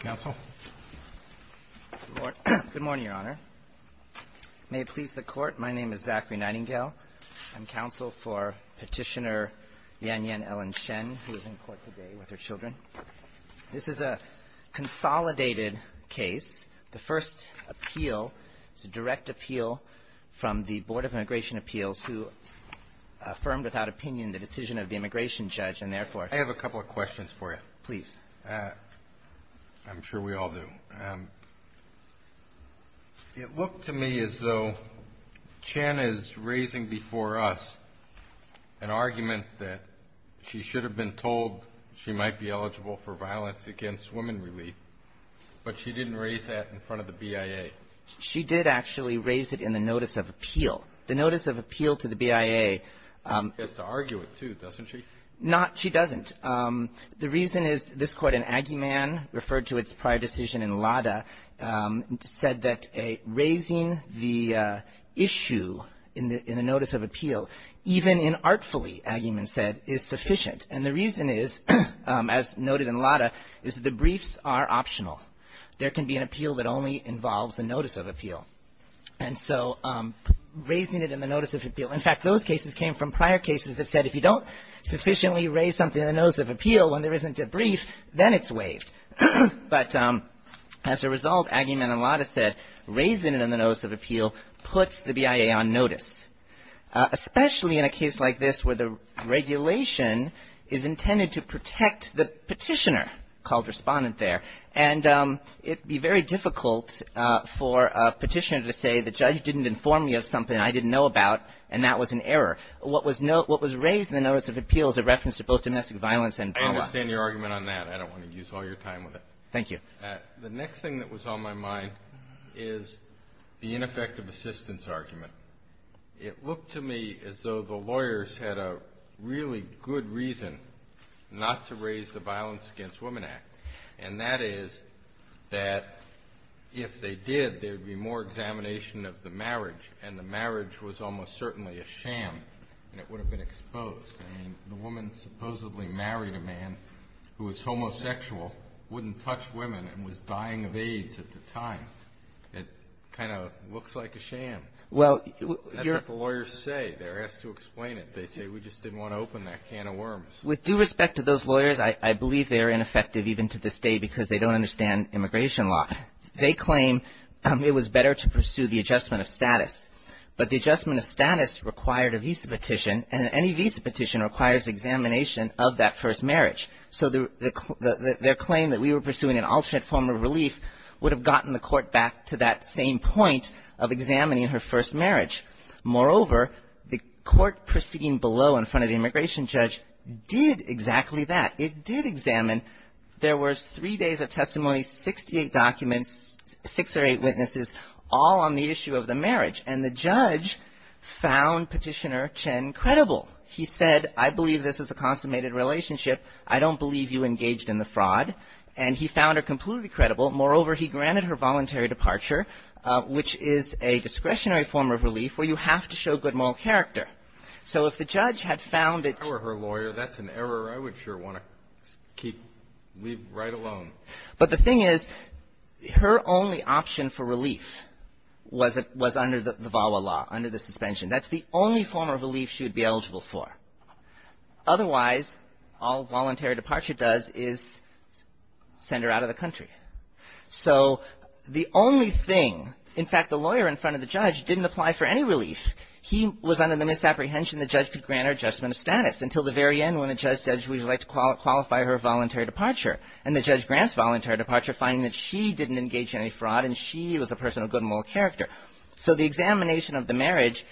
Counsel? Good morning, Your Honor. May it please the Court, my name is Zachary Nightingale. I'm counsel for Petitioner Yanyan Ellen Chen, who is in court today with her children. This is a consolidated case. The first appeal is a direct appeal from the Board of Immigration Appeals, who affirmed without opinion the decision of the immigration judge, and therefore... I have a couple of questions for you. Please. I'm sure we all do. It looked to me as though Chen is raising before us an argument that she should have been told she might be eligible for violence against women relief, but she didn't raise that in front of the BIA. She did actually raise it in the notice of appeal. The notice of appeal to the BIA... She has to argue it, doesn't she? No, she doesn't. The reason is this Court, in Aguiman, referred to its prior decision in Lada, said that raising the issue in the notice of appeal, even inartfully, Aguiman said, is sufficient. And the reason is, as noted in Lada, is the briefs are optional. There can be an appeal that only involves the notice of appeal. And so raising it in the notice of appeal In fact, those cases came from prior cases that said if you don't sufficiently raise something in the notice of appeal when there isn't a brief, then it's waived. But as a result, Aguiman and Lada said raising it in the notice of appeal puts the BIA on notice, especially in a case like this where the regulation is intended to protect the petitioner called respondent there. And it would be very difficult for a petitioner to say the judge didn't inform me of something I didn't know about, and that was an error. What was raised in the notice of appeal is a reference to both domestic violence and drama. I understand your argument on that. I don't want to use all your time with it. Thank you. The next thing that was on my mind is the ineffective assistance argument. It looked to me as though the lawyers had a really good reason not to raise the Violence Against Women Act, and that is that if they did, there would be more examination of the marriage, and the marriage was almost certainly a sham, and it would have been exposed. I mean, the woman supposedly married a man who was homosexual, wouldn't touch women, and was dying of AIDS at the time. It kind of looks like a sham. Well, your ---- That's what the lawyers say. They're asked to explain it. They say we just didn't want to open that can of worms. With due respect to those lawyers, I believe they are ineffective even to this day because they don't understand immigration law. They claim it was better to pursue the adjustment of status. But the adjustment of status required a visa petition, and any visa petition requires examination of that first marriage. So their claim that we were pursuing an alternate form of relief would have gotten the court back to that same point of examining her first marriage. Moreover, the court proceeding below in front of the immigration judge did exactly that. It did examine, there was three days of testimony, 68 documents, six or eight witnesses all on the issue of the marriage, and the judge found Petitioner Chen credible. He said, I believe this is a consummated relationship. I don't believe you engaged in the fraud. And he found her completely credible. Moreover, he granted her voluntary departure, which is a discretionary form of relief where you have to show good moral character. So if the judge had found that ---- Just keep, leave right alone. But the thing is, her only option for relief was under the VAWA law, under the suspension. That's the only form of relief she would be eligible for. Otherwise, all voluntary departure does is send her out of the country. So the only thing, in fact, the lawyer in front of the judge didn't apply for any relief. He was under the misapprehension the judge could grant her adjustment of status until the very end when the judge said she would like to qualify her voluntary departure. And the judge grants voluntary departure, finding that she didn't engage in any fraud and she was a person of good moral character. So the examination of the marriage,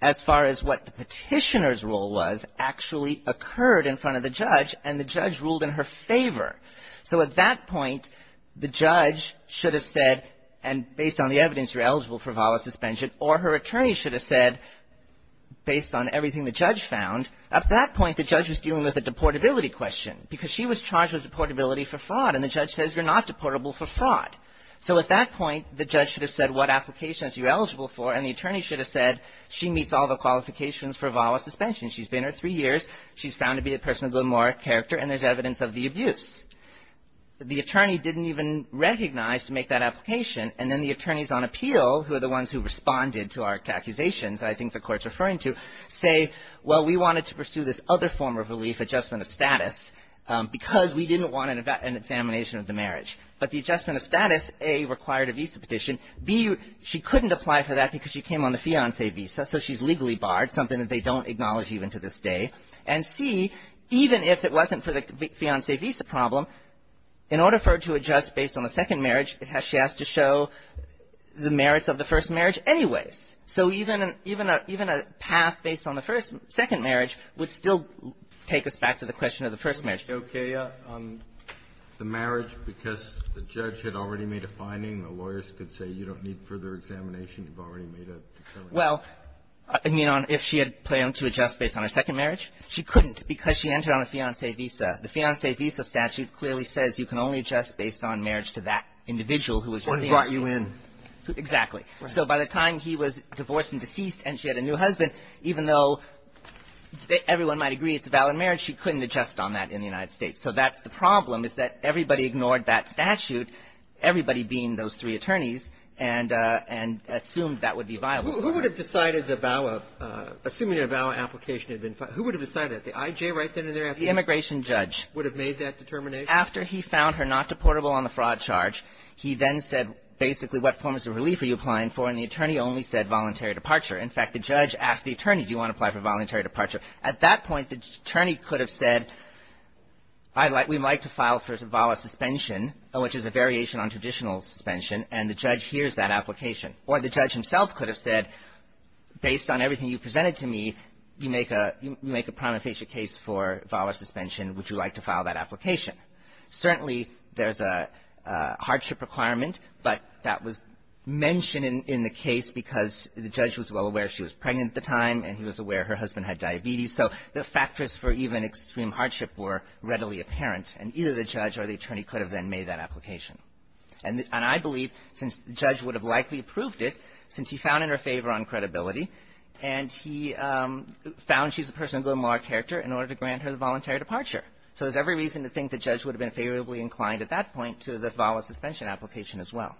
as far as what the Petitioner's role was, actually occurred in front of the judge, and the judge ruled in her favor. So at that point, the judge should have said, and based on the evidence, you're eligible for VAWA suspension, or her attorney should have said, based on everything the judge found, at that point, the judge was dealing with a deportability question, because she was charged with deportability for fraud, and the judge says, you're not deportable for fraud. So at that point, the judge should have said, what application is she eligible for, and the attorney should have said, she meets all the qualifications for VAWA suspension. She's been here three years. She's found to be a person of good moral character, and there's evidence of the abuse. The attorney didn't even recognize to make that application, and then the attorneys on appeal, who are the ones who responded to our accusations, I think the court's referring to, say, well, we wanted to pursue this other form of relief, adjustment of status, because we didn't want an examination of the marriage. But the adjustment of status, A, required a visa petition. B, she couldn't apply for that because she came on the fiancé visa, so she's legally barred, something that they don't acknowledge even to this day. And C, even if it wasn't for the fiancé visa problem, in order for her to adjust based on the second marriage, she has to show the merits of the first marriage anyways. So even a path based on the second marriage would still take us back to the question of the first marriage. Kennedy. Okay. On the marriage, because the judge had already made a finding, the lawyers could say, you don't need further examination. You've already made a determination. Well, I mean, if she had planned to adjust based on her second marriage, she couldn't because she entered on a fiancé visa. The fiancé visa statute clearly says you can only adjust based on marriage to that individual who was your fiancé. Who brought you in. Exactly. So by the time he was divorced and deceased and she had a new husband, even though everyone might agree it's a valid marriage, she couldn't adjust on that in the United States. So that's the problem, is that everybody ignored that statute, everybody being those three attorneys, and assumed that would be viable. Who would have decided the VAWA, assuming a VAWA application had been filed, who would have decided that, the I.J. right there in their application? The immigration judge. Would have made that determination? After he found her not deportable on the fraud charge, he then said, basically, what form of relief are you applying for? And the attorney only said voluntary departure. In fact, the judge asked the attorney, do you want to apply for voluntary departure? At that point, the attorney could have said, we'd like to file for VAWA suspension, which is a variation on traditional suspension, and the judge hears that application. Or the judge himself could have said, based on everything you presented to me, you make a prima facie case for VAWA suspension. Would you like to file that application? Certainly, there's a hardship requirement, but that was mentioned in the case because the judge was well aware she was pregnant at the time, and he was aware her husband had diabetes. So the factors for even extreme hardship were readily apparent, and either the judge or the attorney could have then made that application. And I believe, since the judge would have likely approved it, since he found in her favor on credibility, and he found she's a person of good moral character, in order to grant her the voluntary departure. So there's every reason to think the judge would have been favorably inclined at that point to the VAWA suspension application as well.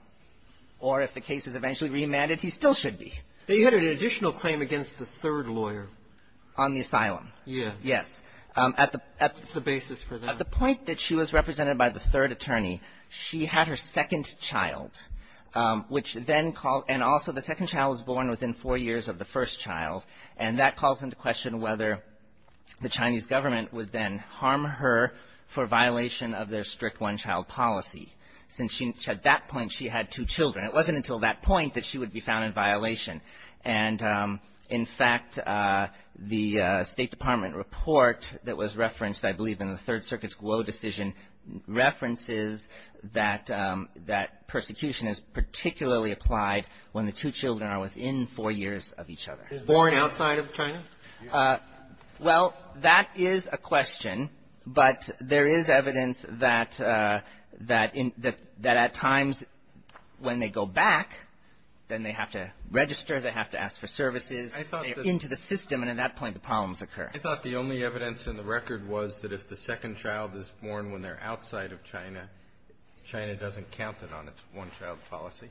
Or if the case is eventually remanded, he still should be. But you had an additional claim against the third lawyer. On the asylum. Yeah. Yes. That's the basis for that. At the point that she was represented by the third attorney, she had her second child, which then called – and also the second child was born within four years of the first child. And that calls into question whether the Chinese government would then harm her for violation of their strict one-child policy, since at that point she had two children. It wasn't until that point that she would be found in violation. And, in fact, the State Department report that was referenced, I believe, in the Third Circuit's Guo decision, references that persecution is particularly applied when the two children are within four years of each other. Born outside of China? Well, that is a question. But there is evidence that at times when they go back, then they have to register, they have to ask for services. They're into the system, and at that point the problems occur. I thought the only evidence in the record was that if the second child is born when they're outside of China, China doesn't count it on its one-child policy.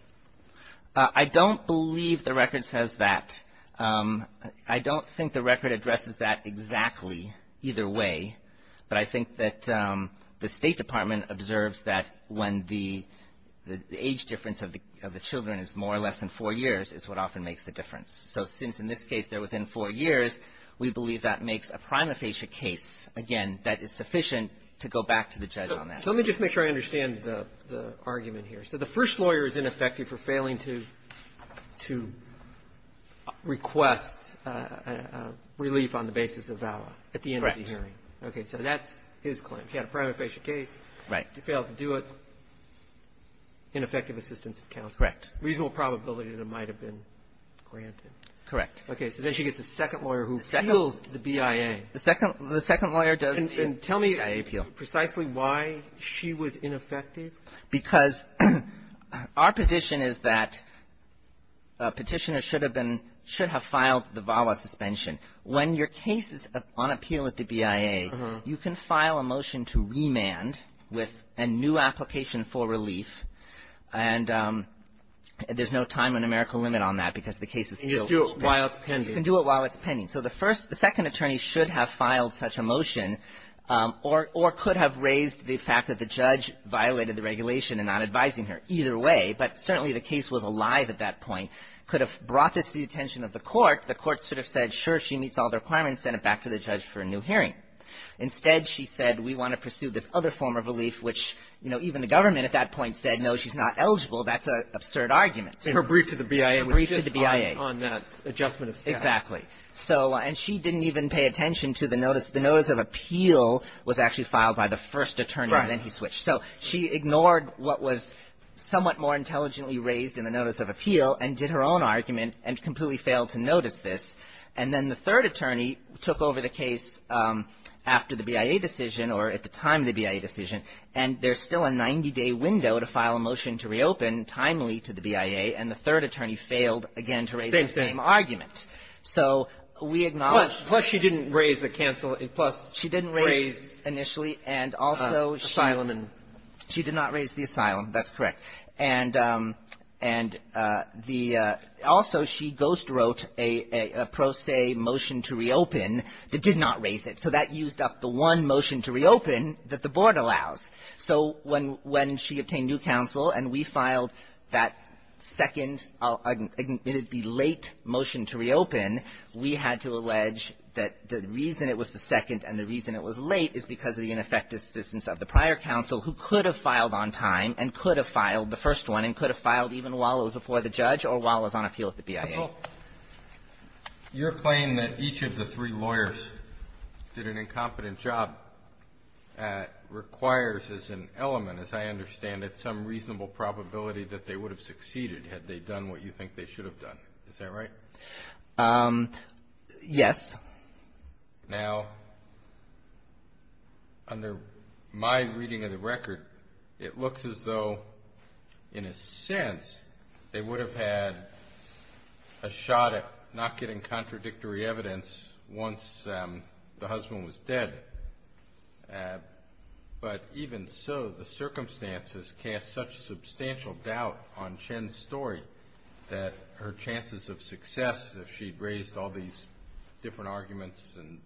I don't believe the record says that. I don't think the record addresses that exactly either way. But I think that the State Department observes that when the age difference of the children is more or less than four years is what often makes the difference. So since in this case they're within four years, we believe that makes a prima facie case, again, that is sufficient to go back to the judge on that. So let me just make sure I understand the argument here. So the first lawyer is ineffective for failing to request relief on the basis of VAWA at the end of the hearing. Correct. Okay. So that's his claim. He had a prima facie case. Right. He failed to do it. Ineffective assistance of counsel. Correct. Reasonable probability that it might have been granted. Correct. So then she gets a second lawyer who appeals to the BIA. The second lawyer does the BIA appeal. And tell me precisely why she was ineffective. Because our position is that a Petitioner should have been – should have filed the VAWA suspension. When your case is on appeal at the BIA, you can file a motion to remand with a new application for relief, and there's no time and numerical limit on that because the case is still pending. You can do it while it's pending. You can do it while it's pending. So the first – the second attorney should have filed such a motion or – or could have raised the fact that the judge violated the regulation and not advising her. Either way. But certainly the case was alive at that point. Could have brought this to the attention of the court. The court should have said, sure, she meets all the requirements, send it back to the judge for a new hearing. Instead, she said, we want to pursue this other form of relief, which, you know, even the government at that point said, no, she's not eligible. That's an absurd argument. In her brief to the BIA. In her brief to the BIA. On that adjustment of status. Exactly. So – and she didn't even pay attention to the notice. The notice of appeal was actually filed by the first attorney. Right. And then he switched. So she ignored what was somewhat more intelligently raised in the notice of appeal and did her own argument and completely failed to notice this. And then the third attorney took over the case after the BIA decision or at the time of the BIA decision, and there's still a 90-day window to file a motion to reopen timely to the BIA. And the third attorney failed again to raise that same argument. So we acknowledge – Plus she didn't raise the cancel – plus raise – She didn't raise initially. And also – Asylum and – She did not raise the asylum. That's correct. And the – also, she ghostwrote a pro se motion to reopen that did not raise it. So that used up the one motion to reopen that the Board allows. So when she obtained new counsel and we filed that second, the late motion to reopen, we had to allege that the reason it was the second and the reason it was late is because of the ineffective assistance of the prior counsel who could have filed on time and could have filed the first one and could have filed even while it was before the judge or while it was on appeal at the BIA. Your claim that each of the three lawyers did an incompetent job requires as an element, as I understand it, some reasonable probability that they would have succeeded had they done what you think they should have done. Is that right? Yes. Now, under my reading of the record, it looks as though, in a sense, they would have had a shot at not getting contradictory evidence once the husband was dead. But even so, the circumstances cast such substantial doubt on Chen's story that her chances of success, if she'd raised all these different arguments and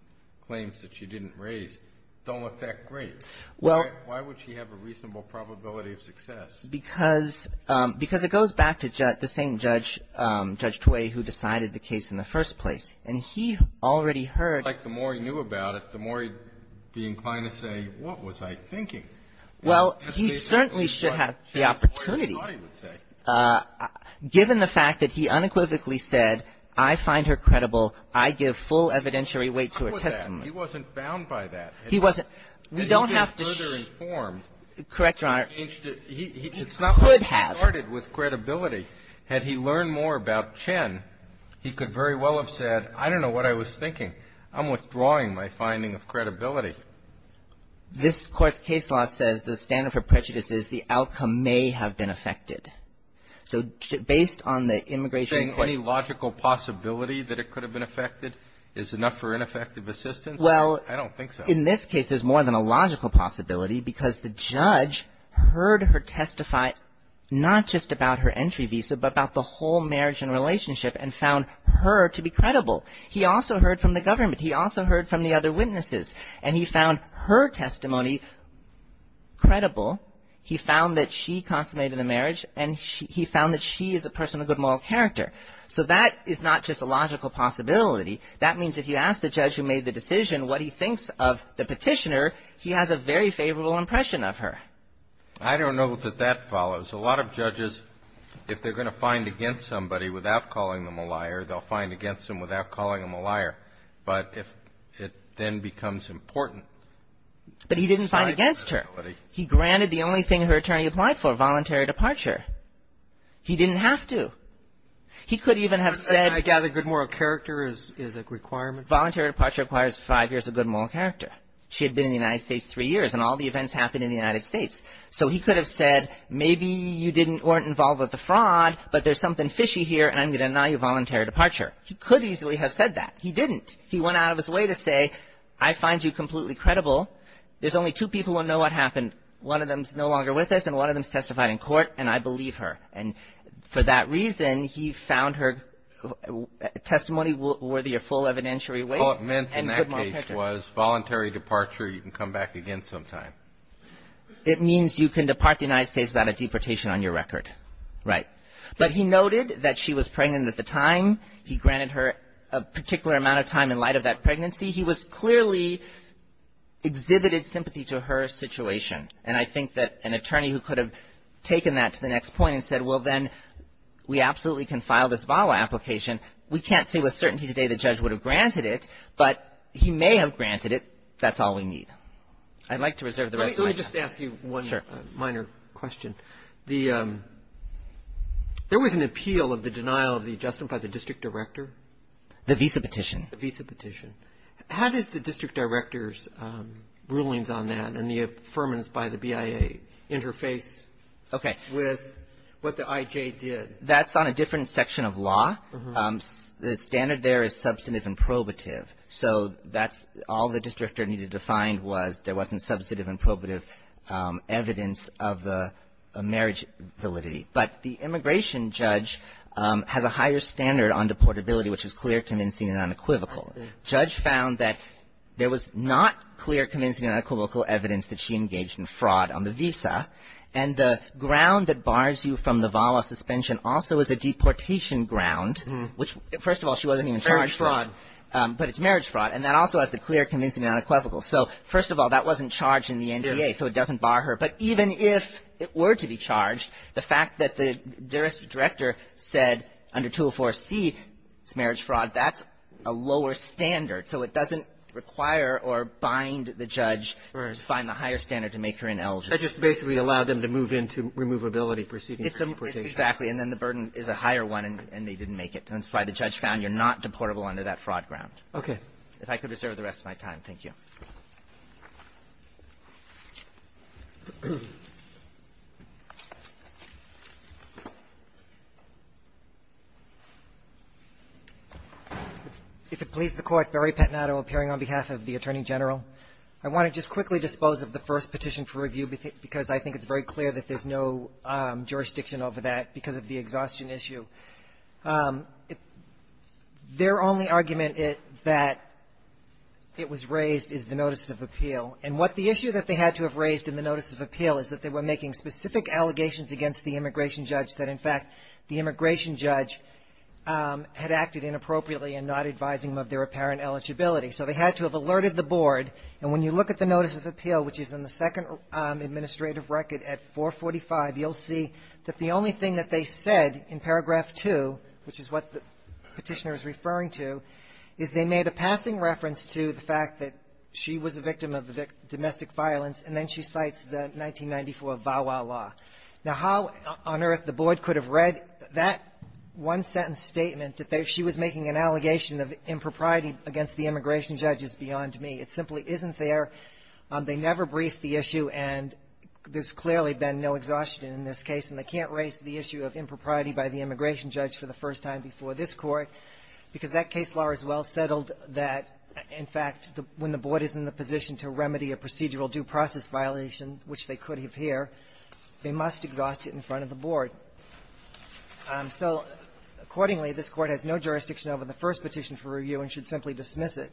claims that she didn't raise, don't look that great. Why would she have a reasonable probability of success? Because it goes back to the same Judge Tway who decided the case in the first place. And he already heard. It's like the more he knew about it, the more he'd be inclined to say, what was I thinking? Well, he certainly should have the opportunity. Given the fact that he unequivocally said, I find her credible, I give full evidentiary weight to her testimony. How was that? He wasn't bound by that. He wasn't. We don't have to shh. Had he been further informed. Correct, Your Honor. He could have. It's not like he started with credibility. Had he learned more about Chen, he could very well have said, I don't know what I was thinking. I'm withdrawing my finding of credibility. This Court's case law says the standard for prejudice is the outcome may have been affected. So based on the immigration case. Any logical possibility that it could have been affected is enough for ineffective assistance? Well. I don't think so. In this case, there's more than a logical possibility because the judge heard her testify not just about her entry visa but about the whole marriage and relationship and found her to be credible. He also heard from the government. He also heard from the other witnesses. And he found her testimony credible. He found that she consummated the marriage. And he found that she is a person of good moral character. So that is not just a logical possibility. That means if you ask the judge who made the decision what he thinks of the petitioner, he has a very favorable impression of her. I don't know that that follows. A lot of judges, if they're going to find against somebody without calling them a liar, they'll find against them without calling them a liar. But if it then becomes important. But he didn't find against her. He granted the only thing her attorney applied for, voluntary departure. He didn't have to. He could even have said. I gather good moral character is a requirement. Voluntary departure requires five years of good moral character. She had been in the United States three years. And all the events happened in the United States. So he could have said maybe you weren't involved with the fraud, but there's something fishy here, and I'm going to deny you voluntary departure. He could easily have said that. He didn't. He went out of his way to say I find you completely credible. There's only two people who know what happened. One of them is no longer with us, and one of them has testified in court, and I believe her. And for that reason, he found her testimony worthy of full evidentiary weight. So what meant in that case was voluntary departure, you can come back again sometime. It means you can depart the United States without a deportation on your record. Right. But he noted that she was pregnant at the time. He granted her a particular amount of time in light of that pregnancy. He was clearly exhibited sympathy to her situation. And I think that an attorney who could have taken that to the next point and said, well, then we absolutely can file this VAWA application. We can't say with certainty today the judge would have granted it, but he may have granted it. That's all we need. I'd like to reserve the rest of my time. Let me just ask you one minor question. Sure. There was an appeal of the denial of the adjustment by the district director. The visa petition. The visa petition. How does the district director's rulings on that and the affirmance by the BIA interface with what the IJ did? That's on a different section of law. The standard there is substantive and probative. So that's all the district director needed to find was there wasn't substantive and probative evidence of the marriage validity. But the immigration judge has a higher standard on deportability, which is clear, convincing, and unequivocal. The judge found that there was not clear, convincing, and unequivocal evidence that she engaged in fraud on the visa. And the ground that bars you from the VAWA suspension also is a deportation ground, which, first of all, she wasn't even charged for. Marriage fraud. But it's marriage fraud. And that also has the clear, convincing, and unequivocal. So, first of all, that wasn't charged in the NTA, so it doesn't bar her. But even if it were to be charged, the fact that the director said under 204C it's marriage fraud, that's a lower standard. So it doesn't require or bind the judge to find the higher standard to make her ineligible. That just basically allowed them to move into removability proceedings. It's exactly. And then the burden is a higher one, and they didn't make it. And that's why the judge found you're not deportable under that fraud ground. Okay. If I could reserve the rest of my time. Thank you. If it pleases the Court, Barry Pettinato appearing on behalf of the Attorney General. I want to just quickly dispose of the first petition for review because I think it's very clear that there's no jurisdiction over that because of the exhaustion issue. Their only argument that it was raised is the notice of appeal. And what the issue that they had to have raised in the notice of appeal is that they were making specific allegations against the immigration judge that, in fact, the immigration judge had acted inappropriately in not advising them of their apparent eligibility. So they had to have alerted the board. And when you look at the notice of appeal, which is in the second administrative record at 445, you'll see that the only thing that they said in paragraph 2, which is what the petitioner is referring to, is they made a passing reference to the fact that she was a victim of domestic violence, and then she cites the 1994 VAWA law. Now, how on earth the board could have read that one-sentence statement that she was making an allegation of impropriety against the immigration judge is beyond me. It simply isn't there. They never briefed the issue, and there's clearly been no exhaustion in this case. And they can't raise the issue of impropriety by the immigration judge for the first time before this Court because that case law is well settled that, in fact, when the board is in the position to remedy a procedural due process violation, which they could have here, they must exhaust it in front of the board. So accordingly, this Court has no jurisdiction over the first petition for review and should simply dismiss it.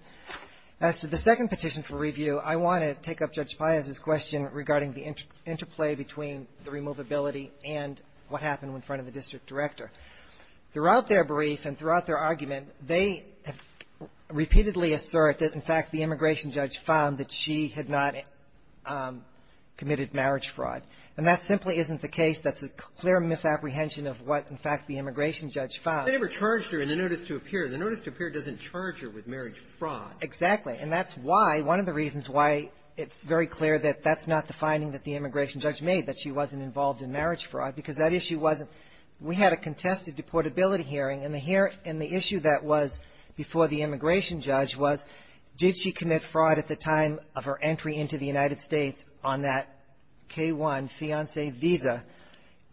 As to the second petition for review, I want to take up Judge Payaz's question regarding the interplay between the removability and what happened in front of the district director. Throughout their brief and throughout their argument, they have repeatedly assert that, in fact, the immigration judge found that she had not committed marriage And that simply isn't the case. That's a clear misapprehension of what, in fact, the immigration judge found. They never charged her in the notice to appear. The notice to appear doesn't charge her with marriage fraud. Exactly. And that's why one of the reasons why it's very clear that that's not the finding that the immigration judge made, that she wasn't involved in marriage fraud, because that issue wasn't. We had a contested deportability hearing, and the issue that was before the immigration judge was, did she commit fraud at the time of her entry into the United States on that K-1 fiancé visa?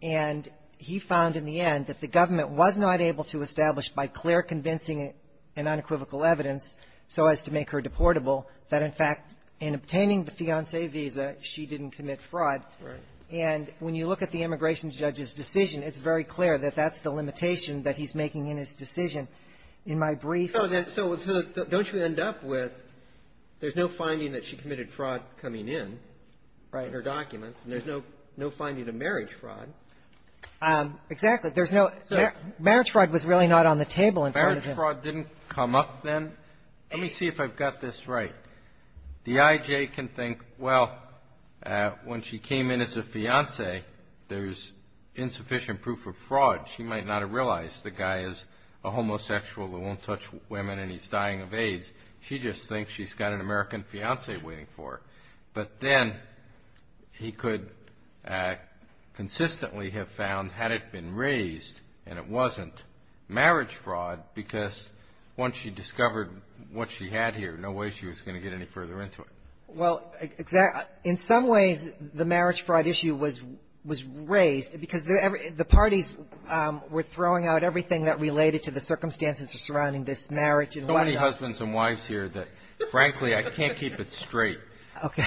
And he found, in the end, that the government was not able to establish, by clear convincing and unequivocal evidence so as to make her deportable, that, in fact, in obtaining the fiancé visa, she didn't commit fraud. Right. And when you look at the immigration judge's decision, it's very clear that that's the limitation that he's making in his decision. In my brief ---- So don't you end up with there's no finding that she committed fraud coming in in her documents, and there's no finding of marriage fraud? Exactly. There's no ---- So marriage fraud was really not on the table in front of him. Marriage fraud didn't come up then. Let me see if I've got this right. The I.J. can think, well, when she came in as a fiancé, there's insufficient proof of fraud. She might not have realized the guy is a homosexual who won't touch women and he's dying of AIDS. She just thinks she's got an American fiancé waiting for her. But then he could consistently have found, had it been raised and it wasn't, marriage fraud, because once she discovered what she had here, no way she was going to get any further into it. Well, in some ways, the marriage fraud issue was raised because the public parties were throwing out everything that related to the circumstances surrounding this marriage. So many husbands and wives here that, frankly, I can't keep it straight. Okay.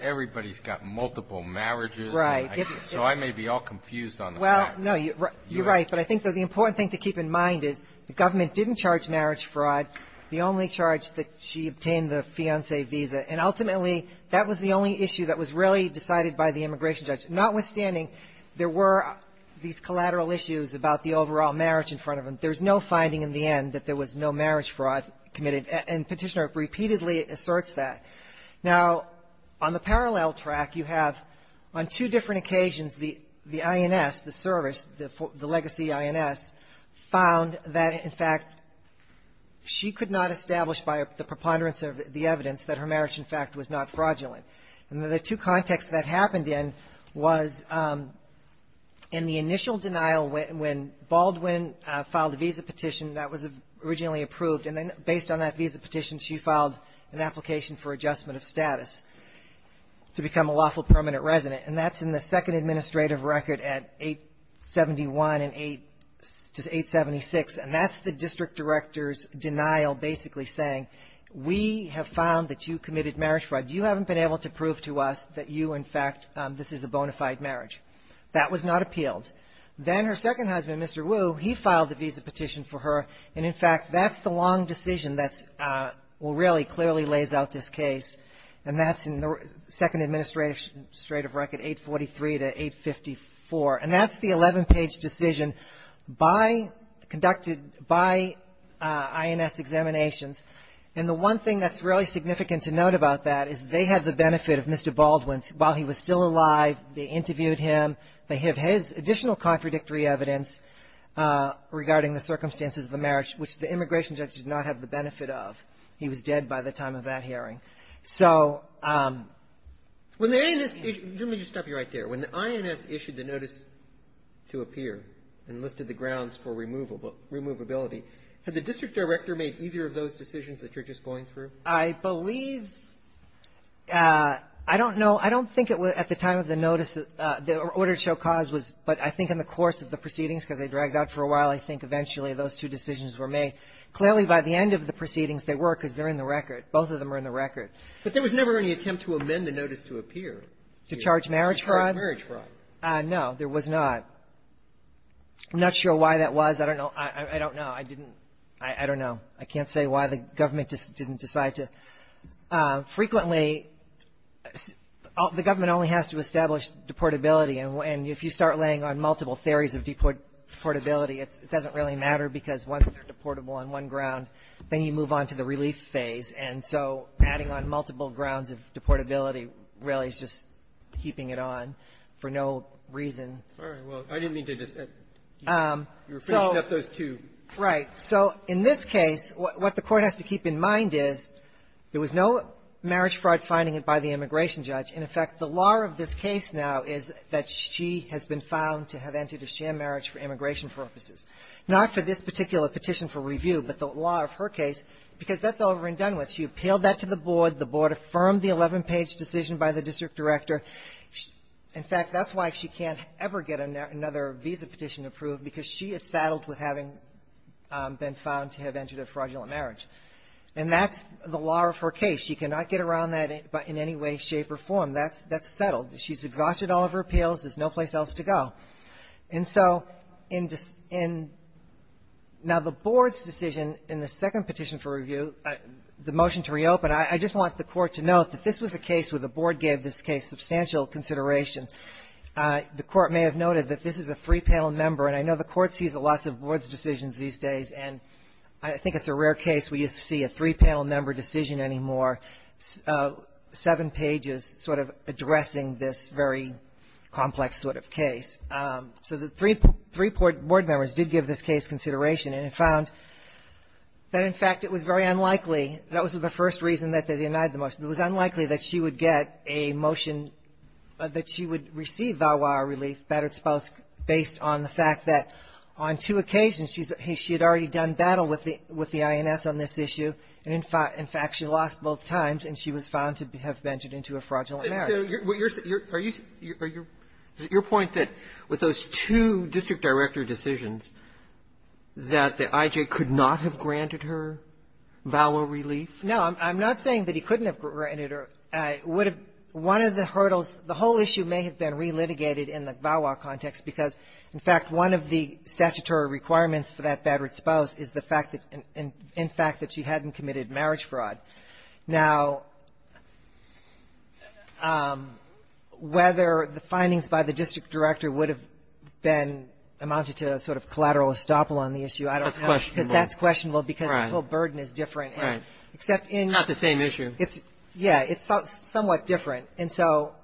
Everybody's got multiple marriages. Right. So I may be all confused on the facts. Well, no, you're right. But I think the important thing to keep in mind is the government didn't charge marriage fraud. The only charge that she obtained, the fiancé visa. And ultimately, that was the only issue that was really decided by the immigration judge. Notwithstanding, there were these collateral issues about the overall marriage in front of them. There's no finding in the end that there was no marriage fraud committed. And Petitioner repeatedly asserts that. Now, on the parallel track, you have, on two different occasions, the INS, the service, the legacy INS, found that, in fact, she could not establish by the preponderance of the evidence that her marriage, in fact, was not fraudulent. And the two contexts that happened in was in the initial denial when Baldwin filed a visa petition that was originally approved. And then, based on that visa petition, she filed an application for adjustment of status to become a lawful permanent resident. And that's in the second administrative record at 871 and 876. And that's the district director's denial basically saying, we have found that you committed marriage fraud. You haven't been able to prove to us that you, in fact, this is a bona fide marriage. That was not appealed. Then her second husband, Mr. Wu, he filed the visa petition for her. And, in fact, that's the long decision that really clearly lays out this case. And that's in the second administrative record, 843 to 854. And that's the 11-page decision conducted by INS examinations. And the one thing that's really significant to note about that is they had the benefit of Mr. Baldwin's, while he was still alive, they interviewed him, they have his additional contradictory evidence regarding the circumstances of the marriage, which the immigration judge did not have the benefit of. He was dead by the time of that hearing. So when the INS issued the notice to appear and listed the grounds for removable ability, had the district director made either of those decisions that you're just going through? I believe — I don't know. I don't think it was at the time of the notice that the order to show cause was. But I think in the course of the proceedings, because they dragged out for a while, I think eventually those two decisions were made. Clearly, by the end of the proceedings, they were, because they're in the record. Both of them are in the record. But there was never any attempt to amend the notice to appear. To charge marriage fraud? To charge marriage fraud. No, there was not. I'm not sure why that was. I don't know. I don't know. I didn't — I don't know. I can't say why the government just didn't decide to. Frequently, the government only has to establish deportability. And if you start laying on multiple theories of deportability, it doesn't really matter, because once they're deportable on one ground, then you move on to the relief phase. And so adding on multiple grounds of deportability really is just keeping it on for no reason. All right. Well, I didn't mean to just — you were pretty snappy there. I just wanted to wind up those two. Right. So in this case, what the Court has to keep in mind is there was no marriage fraud finding it by the immigration judge. In effect, the law of this case now is that she has been found to have entered a sham marriage for immigration purposes, not for this particular petition for review, but the law of her case, because that's over and done with. She appealed that to the board. The board affirmed the 11-page decision by the district director. In fact, that's why she can't ever get another visa petition approved, because she is saddled with having been found to have entered a fraudulent marriage. And that's the law of her case. She cannot get around that in any way, shape, or form. That's settled. She's exhausted all of her appeals. There's no place else to go. And so in — now, the board's decision in the second petition for review, the motion to reopen, I just want the Court to note that this was a case where the board gave this case substantial consideration. The Court may have noted that this is a three-panel member, and I know the Court sees lots of board decisions these days, and I think it's a rare case where you see a three-panel member decision anymore, seven pages sort of addressing this very complex sort of case. So the three board members did give this case consideration, and found that, in fact, it was very unlikely — that was the first reason that they denied the motion. It was unlikely that she would get a motion that she would receive value-added relief based on the fact that, on two occasions, she had already done battle with the — with the INS on this issue, and, in fact, she lost both times, and she was found to have entered into a fraudulent marriage. Are you — your point that with those two district director decisions, that the I.J. could not have granted her value-added relief? No. I'm not saying that he couldn't have granted her. It would have — one of the hurdles — the whole issue may have been relitigated in the VAWA context because, in fact, one of the statutory requirements for that bad-red spouse is the fact that — in fact, that she hadn't committed marriage fraud. Now, whether the findings by the district director would have been — amounted to a sort of collateral estoppel on the issue, I don't know. That's questionable. Because that's questionable because the whole burden is different. Right. Except in — It's not the same issue. It's — yeah. It's somewhat different. And so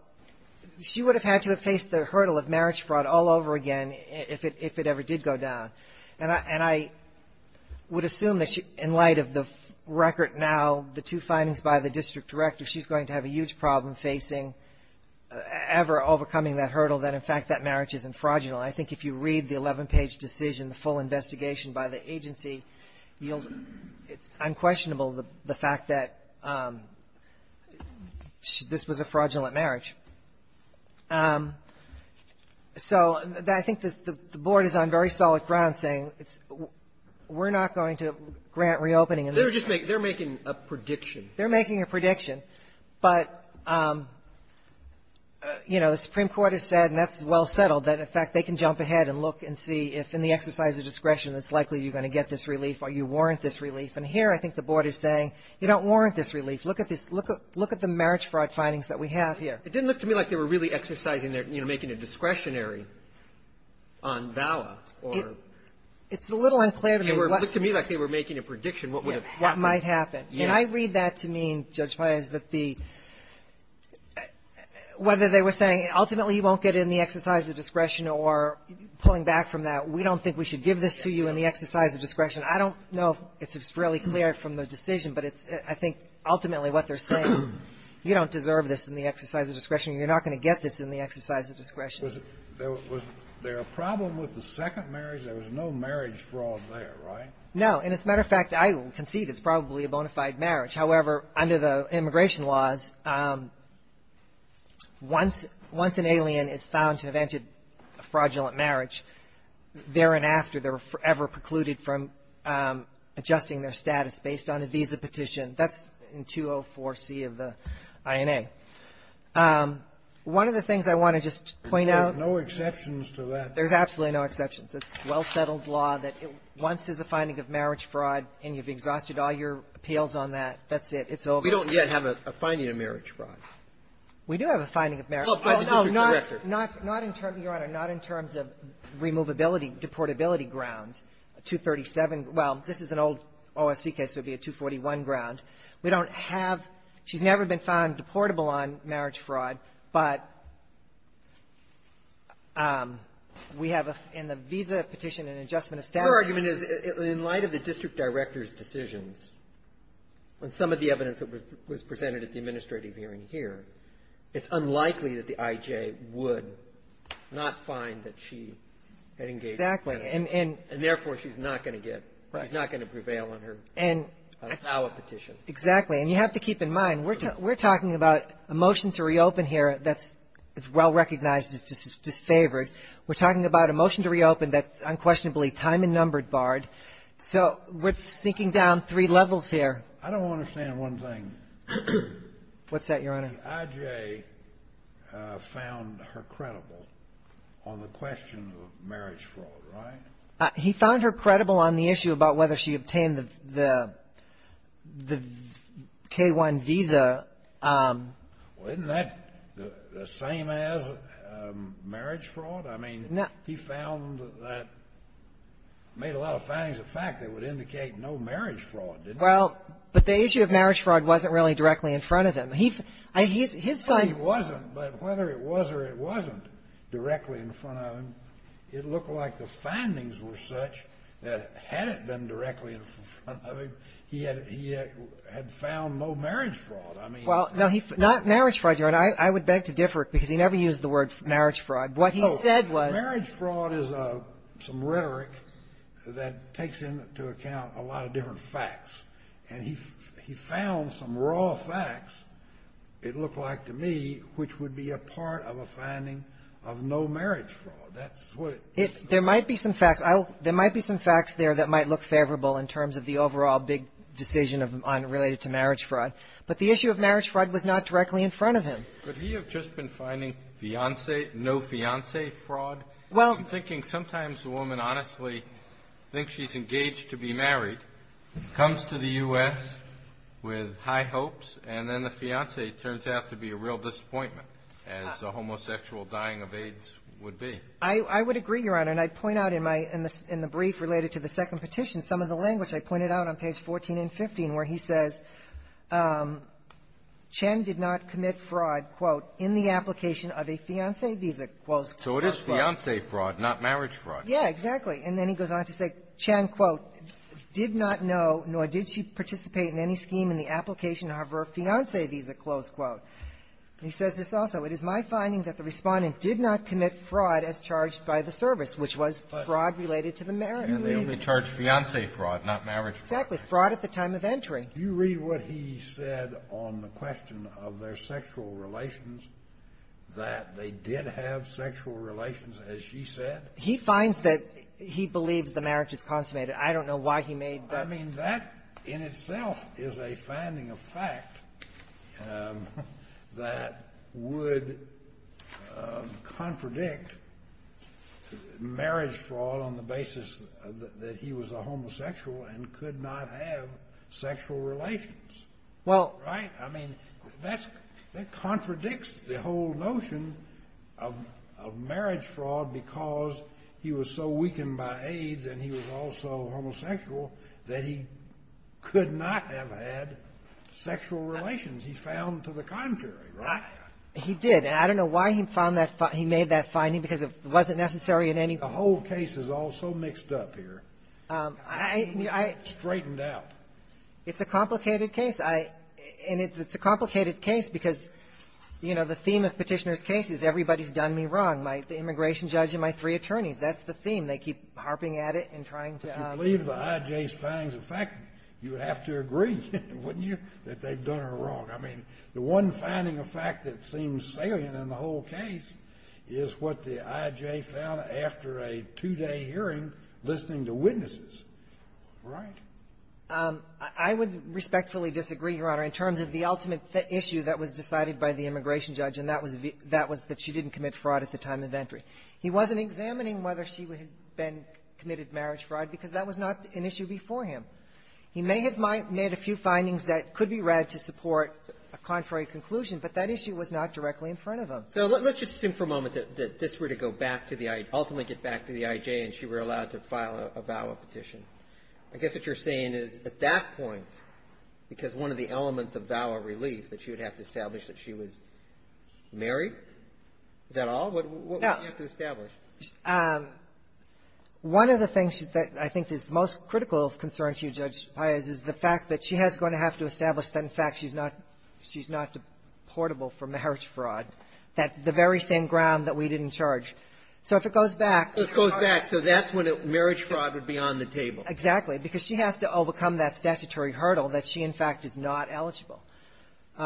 she would have had to have faced the hurdle of marriage fraud all over again if it ever did go down. And I — and I would assume that she — in light of the record now, the two findings by the district director, she's going to have a huge problem facing ever overcoming that hurdle, that, in fact, that marriage isn't fraudulent. I think if you read the 11-page decision, the full investigation by the agency, it yields — it's unquestionable the fact that this was a fraudulent marriage. So I think the Board is on very solid ground saying it's — we're not going to grant reopening in this case. They're just making — they're making a prediction. They're making a prediction. But, you know, the Supreme Court has said, and that's well settled, that, in fact, they can jump ahead and look and see if, in the exercise of discretion, it's likely you're going to get this relief or you warrant this relief. And here, I think the Board is saying, you don't warrant this relief. Look at this — look at the marriage fraud findings that we have here. It didn't look to me like they were really exercising their — you know, making a discretionary on VAWA or — It's a little unclear to me what — It looked to me like they were making a prediction, what would have happened. Yes. What might happen. Yes. And I read that to mean, Judge Payes, that the — whether they were saying, ultimately, you won't get in the exercise of discretion or pulling back from that. We don't think we should give this to you in the exercise of discretion. I don't know if it's really clear from the decision, but it's — I think, ultimately, what they're saying is, you don't deserve this in the exercise of discretion. You're not going to get this in the exercise of discretion. Was there a problem with the second marriage? There was no marriage fraud there, right? No. And, as a matter of fact, I concede it's probably a bona fide marriage. However, under the immigration laws, once an alien is found to have entered a fraudulent marriage, there and after, they're forever precluded from adjusting their status based on a visa petition. That's in 204C of the INA. One of the things I want to just point out — There's no exceptions to that. There's absolutely no exceptions. It's well-settled law that once there's a finding of marriage fraud and you've exhausted all your appeals on that, that's it. It's over. We don't yet have a finding of marriage fraud. We do have a finding of marriage — Well, by the district director. Not in terms, Your Honor, not in terms of removability, deportability ground, 237. Well, this is an old OSC case, so it would be a 241 ground. We don't have — she's never been found deportable on marriage fraud, but we have in the visa petition an adjustment of status. Her argument is, in light of the district director's decisions, and some of the evidence that was presented at the administrative hearing here, it's unlikely that the IJ would not find that she had engaged in marriage fraud. Exactly. And therefore, she's not going to get — she's not going to prevail on her VAWA petition. Exactly. And you have to keep in mind, we're talking about a motion to reopen here that's well-recognized as disfavored. We're talking about a motion to reopen that's unquestionably time and number barred. So we're sinking down three levels here. I don't understand one thing. What's that, Your Honor? The IJ found her credible on the question of marriage fraud, right? He found her credible on the issue about whether she obtained the K-1 visa. Well, isn't that the same as marriage fraud? I mean, he found that — made a lot of findings of fact that would indicate no marriage fraud, didn't he? Well, but the issue of marriage fraud wasn't really directly in front of him. He — his findings — No, it wasn't. But whether it was or it wasn't directly in front of him, it looked like the findings were such that had it been directly in front of him, he had found no marriage fraud. I mean — Well, no, he — not marriage fraud, Your Honor. I would beg to differ, because he never used the word marriage fraud. What he said was — And he found some raw facts, it looked like to me, which would be a part of a finding of no marriage fraud. That's what he said. There might be some facts. I'll — there might be some facts there that might look favorable in terms of the overall big decision of — on — related to marriage fraud. But the issue of marriage fraud was not directly in front of him. Could he have just been finding fiancé — no fiancé fraud? Well — I'm thinking sometimes a woman, honestly, thinks she's engaged to be married, comes to the U.S. with high hopes, and then the fiancé turns out to be a real disappointment, as the homosexual dying of AIDS would be. I — I would agree, Your Honor. And I'd point out in my — in the brief related to the second petition, some of the language I pointed out on page 14 and 15, where he says, Chen did not commit fraud, quote, in the application of a fiancé visa, quote, for fraud. So it is fiancé fraud, not marriage fraud. Yeah, exactly. And then he goes on to say, Chen, quote, did not know, nor did she participate in any scheme in the application of her fiancé visa, close quote. And he says this also. It is my finding that the Respondent did not commit fraud as charged by the service, which was fraud related to the marriage. And they only charged fiancé fraud, not marriage fraud. Exactly. Fraud at the time of entry. Do you read what he said on the question of their sexual relations, that they did have sexual relations, as she said? He finds that he believes the marriage is consummated. I don't know why he made that. I mean, that in itself is a finding of fact that would contradict marriage fraud on the basis that he was a homosexual and could not have sexual relations. Well — Right? I mean, that's — that contradicts the whole notion of marriage fraud because he was so weakened by AIDS and he was also homosexual that he could not have had sexual relations. He's found to the contrary, right? He did. And I don't know why he found that — he made that finding because it wasn't necessary in any — The whole case is all so mixed up here. I mean, I — Straightened out. It's a complicated case. I — and it's a complicated case because, you know, the theme of Petitioner's case is everybody's done me wrong. The immigration judge and my three attorneys, that's the theme. They keep harping at it and trying to — If you believe the I.J.'s findings of fact, you would have to agree, wouldn't you, that they've done her wrong. I mean, the one finding of fact that seems salient in the whole case is what the I.J. found after a two-day hearing listening to witnesses, right? I would respectfully disagree, Your Honor, in terms of the ultimate issue that was decided by the immigration judge, and that was the — that was that she didn't commit fraud at the time of entry. He wasn't examining whether she had been — committed marriage fraud because that was not an issue before him. He may have made a few findings that could be read to support a contrary conclusion, but that issue was not directly in front of him. So let's just assume for a moment that this were to go back to the — ultimately get back to the I.J. and she were allowed to file a VAWA petition. I guess what you're saying is at that point, because one of the elements of VAWA relief that she would have to establish that she was married, is that all? What would she have to establish? No. One of the things that I think is most critical of concern to you, Judge Paius, is the fact that she has going to have to establish the fact that she's not — she's not deportable from the marriage fraud, that — the very same ground that we didn't charge. So if it goes back — So it goes back. So that's when marriage fraud would be on the table. Exactly. Because she has to overcome that statutory hurdle that she, in fact, is not eligible —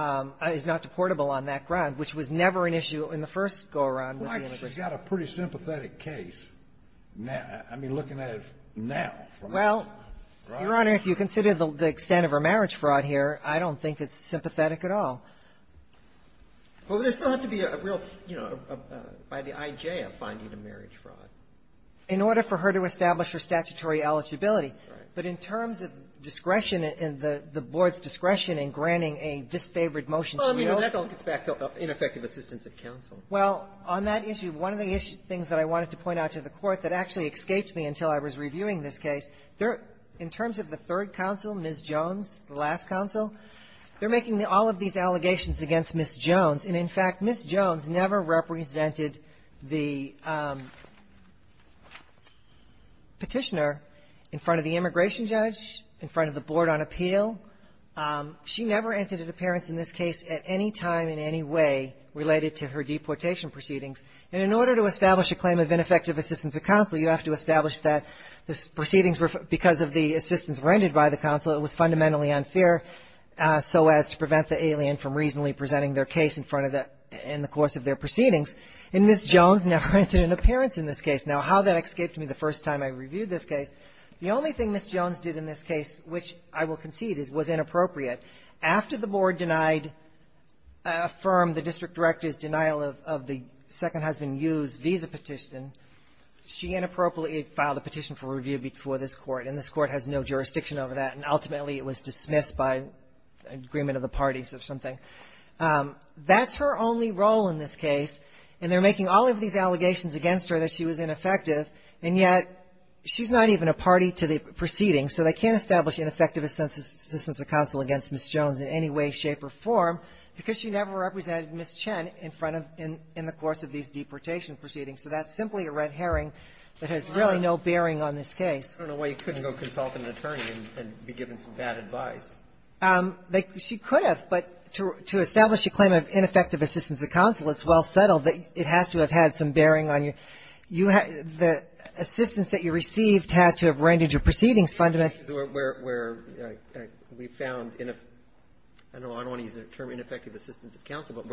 is not deportable on that ground, which was never an issue in the first go-around with the immigration. Well, I just got a pretty sympathetic case now — I mean, looking at it now, from this point. Well, Your Honor, if you consider the extent of her marriage fraud here, I don't think it's sympathetic at all. Well, there still has to be a real, you know, by the IJ, a finding of marriage fraud. In order for her to establish her statutory eligibility. Right. But in terms of discretion and the Board's discretion in granting a disfavored motion to you — Well, I mean, that gets back to ineffective assistance of counsel. Well, on that issue, one of the issues — things that I wanted to point out to the Court that actually escaped me until I was reviewing this case, there — in terms of the third counsel, Ms. Jones, the last counsel, they're making all of these allegations against Ms. Jones. And, in fact, Ms. Jones never represented the Petitioner in front of the immigration judge, in front of the Board on appeal. She never entered into appearance in this case at any time in any way related to her deportation proceedings. And in order to establish a claim of ineffective assistance of counsel, you have to establish that the proceedings were — because of the assistance granted by the counsel, it was fundamentally unfair, so as to prevent the alien from reasonably presenting their case in front of the — in the course of their proceedings. And Ms. Jones never entered into appearance in this case. Now, how that escaped me the first time I reviewed this case, the only thing Ms. Jones did in this case, which I will concede is, was inappropriate. After the Board denied — affirmed the district director's denial of the second husband Yu's visa petition, she inappropriately filed a petition for review before this Court, and this Court has no jurisdiction over that, and ultimately, it was dismissed by agreement of the parties or something. That's her only role in this case, and they're making all of these allegations against her that she was ineffective, and yet she's not even a party to the proceedings. So they can't establish ineffective assistance of counsel against Ms. Jones in any way, shape, or form, because she never represented Ms. Chen in front of — in the course of these deportation proceedings. So that's simply a red herring that has really no bearing on this case. I don't know why you couldn't go consult an attorney and be given some bad advice. She could have, but to establish a claim of ineffective assistance of counsel, it's well settled that it has to have had some bearing on your — you have — the assistance that you received had to have rendered your proceedings fundamentally — Where we found — I don't want to use the term ineffective assistance of counsel, but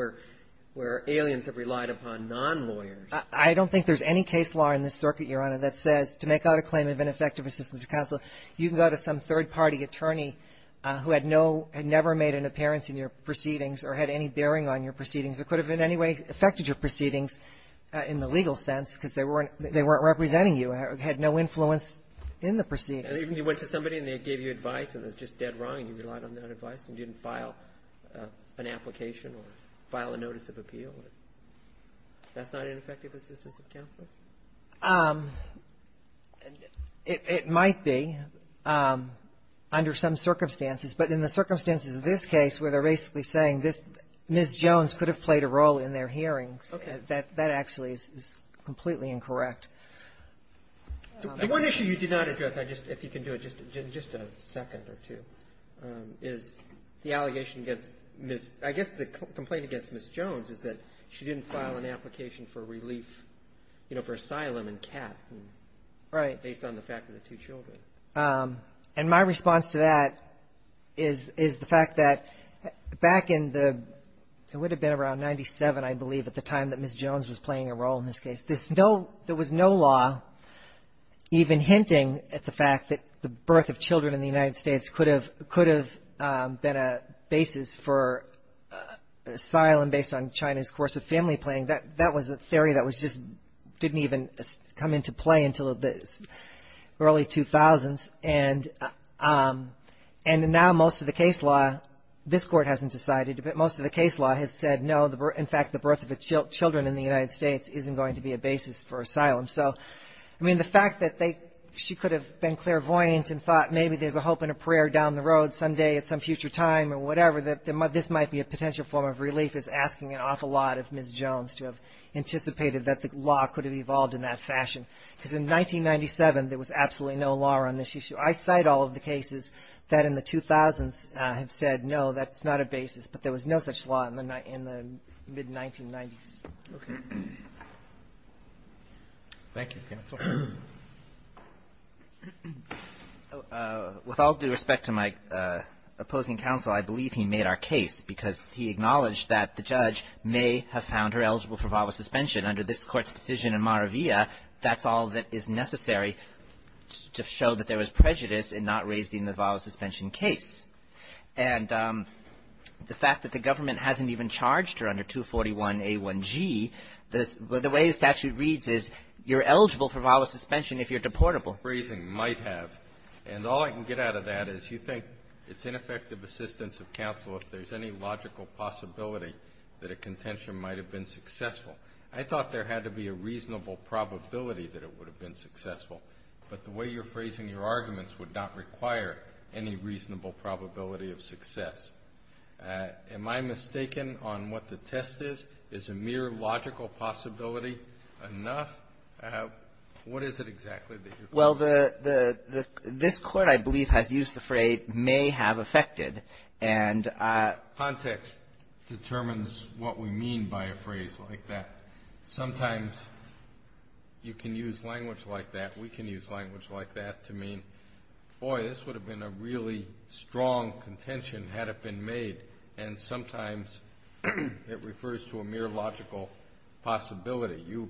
where aliens have relied upon non-lawyers. I don't think there's any case law in this circuit, Your Honor, that says to make out a claim of ineffective assistance of counsel, you can go to some third-party attorney who had no — had never made an appearance in your proceedings or had any bearing on your proceedings or could have in any way affected your proceedings in the legal sense because they weren't — they weren't representing you, had no influence in the proceedings. And even you went to somebody, and they gave you advice, and it was just dead wrong, and you relied on that advice, and you didn't file an application or file a notice of appeal. That's not ineffective assistance of counsel? It might be under some circumstances. But in the circumstances of this case, where they're basically saying this — Ms. Jones could have played a role in their hearings, that actually is completely incorrect. The one issue you did not address, if you can do it in just a second or two, is the allegation against Ms. — I guess the complaint against Ms. Jones is that she didn't file an application for relief, you know, for asylum and cap, based on the fact of the two children. And my response to that is the fact that back in the — it would have been around 97, I believe, at the time that Ms. Jones was playing a role in this case. There was no law even hinting at the fact that the birth of children in the United States could have been a basis for asylum based on China's course of family playing. That was a theory that was just — didn't even come into play until the early 2000s. And now most of the case law — this Court hasn't decided, but most of the case law has said, no, in fact, the birth of children in the United States isn't going to be a basis for asylum. So, I mean, the fact that they — she could have been clairvoyant and thought maybe there's a hope and a prayer down the road someday at some future time or whatever that this might be a potential form of relief is asking an awful lot of Ms. Jones to have anticipated that the law could have evolved in that fashion. Because in 1997, there was absolutely no law on this issue. I cite all of the cases that in the 2000s have said, no, that's not a basis. But there was no such law in the mid-1990s. Okay. Thank you, counsel. With all due respect to my opposing counsel, I believe he made our case because he acknowledged that the judge may have found her eligible for VAWA suspension. Under this Court's decision in Maravilla, that's all that is necessary to show that there was prejudice in not raising the VAWA suspension case. And the fact that the government hasn't even charged her under 241A1G, the way the statute reads is you're eligible for VAWA suspension if you're deportable. Phrasing might have. And all I can get out of that is you think it's ineffective assistance of counsel if there's any logical possibility that a contention might have been successful. I thought there had to be a reasonable probability that it would have been successful. But the way you're phrasing your arguments would not require any reasonable probability of success. Am I mistaken on what the test is? Is a mere logical possibility enough? What is it exactly that you're quoting? Well, the — this Court, I believe, has used the phrase may have affected. And — Context determines what we mean by a phrase like that. Sometimes you can use language like that. We can use language like that to mean, boy, this would have been a really strong contention had it been made. And sometimes it refers to a mere logical possibility. You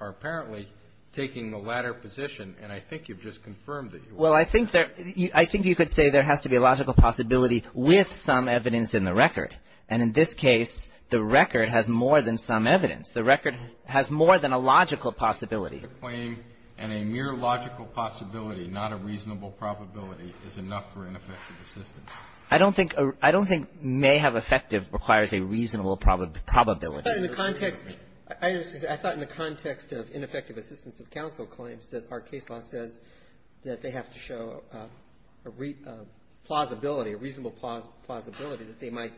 are apparently taking the latter position. And I think you've just confirmed it. Well, I think there — I think you could say there has to be a logical possibility with some evidence in the record. And in this case, the record has more than some evidence. The record has more than a logical possibility. The claim, and a mere logical possibility, not a reasonable probability, is enough for ineffective assistance. I don't think — I don't think may have affected requires a reasonable probability. But in the context — I understand. I thought in the context of ineffective assistance of counsel claims that our case law says that they have to show a plausibility, a reasonable plausibility that they might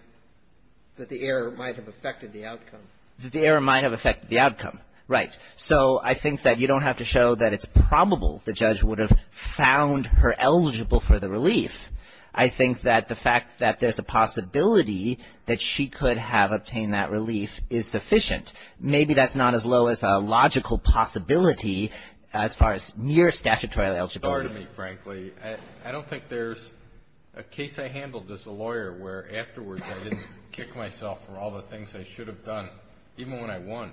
— that the error might have affected the outcome. The error might have affected the outcome. Right. So I think that you don't have to show that it's probable the judge would have found her eligible for the relief. I think that the fact that there's a possibility that she could have obtained that relief is sufficient. Maybe that's not as low as a logical possibility as far as mere statutory eligibility. Sorry to me, frankly. I don't think there's a case I handled as a lawyer where afterwards I didn't kick myself for all the things I should have done, even when I won.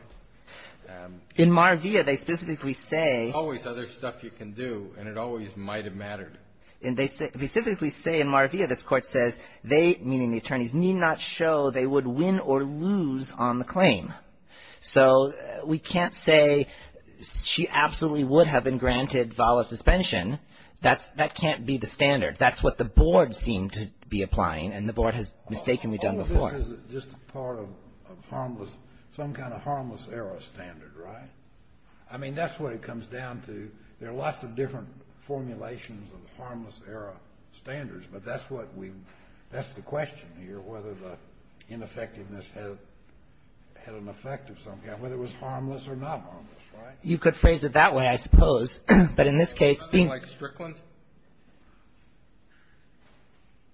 In Mar-Via, they specifically say — There's always other stuff you can do, and it always might have mattered. And they specifically say in Mar-Via, this Court says they, meaning the attorneys, need not show they would win or lose on the claim. So we can't say she absolutely would have been granted VALA suspension. That can't be the standard. That's what the board seemed to be applying, and the board has mistakenly done before. This is just part of harmless — some kind of harmless error standard, right? I mean, that's what it comes down to. There are lots of different formulations of harmless error standards, but that's what we — that's the question here, whether the ineffectiveness had an effect of some kind, whether it was harmless or not harmless, right? You could phrase it that way, I suppose. But in this case, being — Something like Strickland?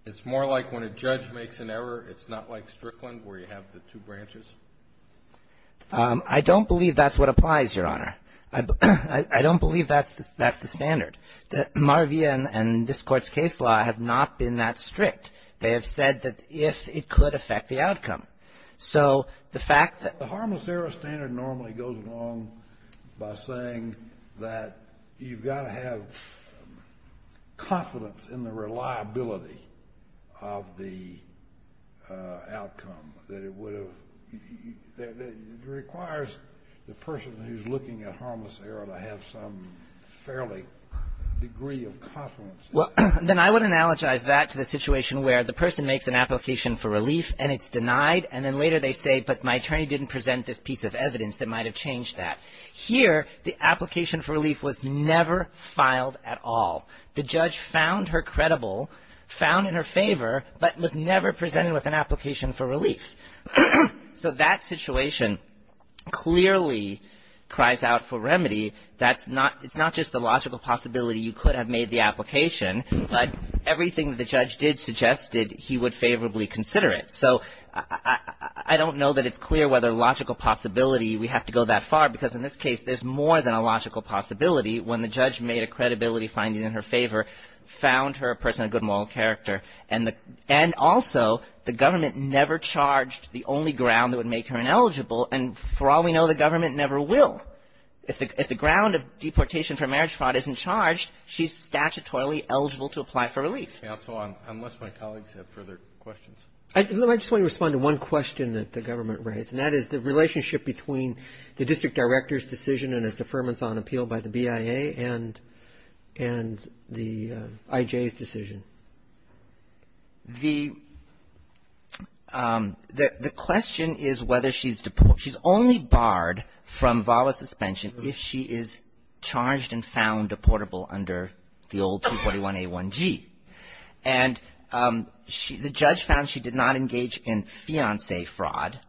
It's more like when a judge makes an error, it's not like Strickland, where you have the two branches? I don't believe that's what applies, Your Honor. I don't believe that's the — that's the standard. The — Mar-Via and this Court's case law have not been that strict. They have said that if it could affect the outcome. So the fact that — The harmless error standard normally goes along by saying that you've got to have confidence in the reliability of the outcome, that it would have — that it requires the person who's looking at harmless error to have some fairly degree of confidence. Well, then I would analogize that to the situation where the person makes an application for relief and it's denied, and then later they say, but my attorney didn't present this piece of evidence that might have changed that. Here, the application for relief was never filed at all. The judge found her credible, found in her favor, but was never presented with an application for relief. So that situation clearly cries out for remedy. That's not — it's not just the logical possibility you could have made the application, but everything the judge did suggested, he would favorably consider it. So I don't know that it's clear whether logical possibility we have to go that far, because in this case, there's more than a logical possibility when the judge made a credibility finding in her favor, found her a person of good moral character, and the — and also, the government never charged the only ground that would make her ineligible, and for all we know, the government never will. If the — if the ground of deportation for marriage fraud isn't charged, she's statutorily eligible to apply for relief. Counsel, unless my colleagues have further questions. I just want to respond to one question that the government raised, and that is the district director's decision and its affirmance on appeal by the BIA, and the IJ's decision. The — the question is whether she's — she's only barred from VAWA suspension if she is charged and found deportable under the old 241a1g. And she — the judge found she did not engage in fiancé fraud.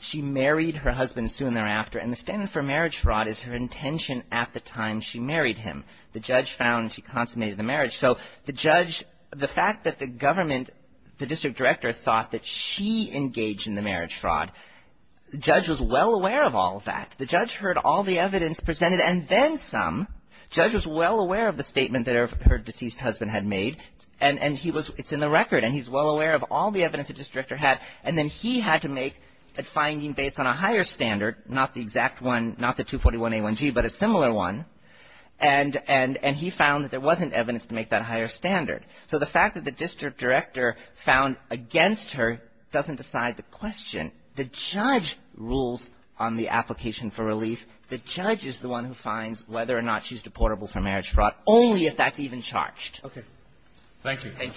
She married her husband soon thereafter, and the standard for marriage fraud is her intention at the time she married him. The judge found she consummated the marriage. So the judge — the fact that the government — the district director thought that she engaged in the marriage fraud, the judge was well aware of all of that. The judge heard all the evidence presented, and then some. Judge was well aware of the statement that her deceased husband had made, and he was — it's in the record, and he's well aware of all the evidence the district director had. And then he had to make a finding based on a higher standard, not the exact one — not the 241a1g, but a similar one. And — and — and he found that there wasn't evidence to make that higher standard. So the fact that the district director found against her doesn't decide the question. The judge rules on the application for relief. The judge is the one who finds whether or not she's deportable for marriage fraud, only if that's even charged. Okay. Thank you. Thank you very much.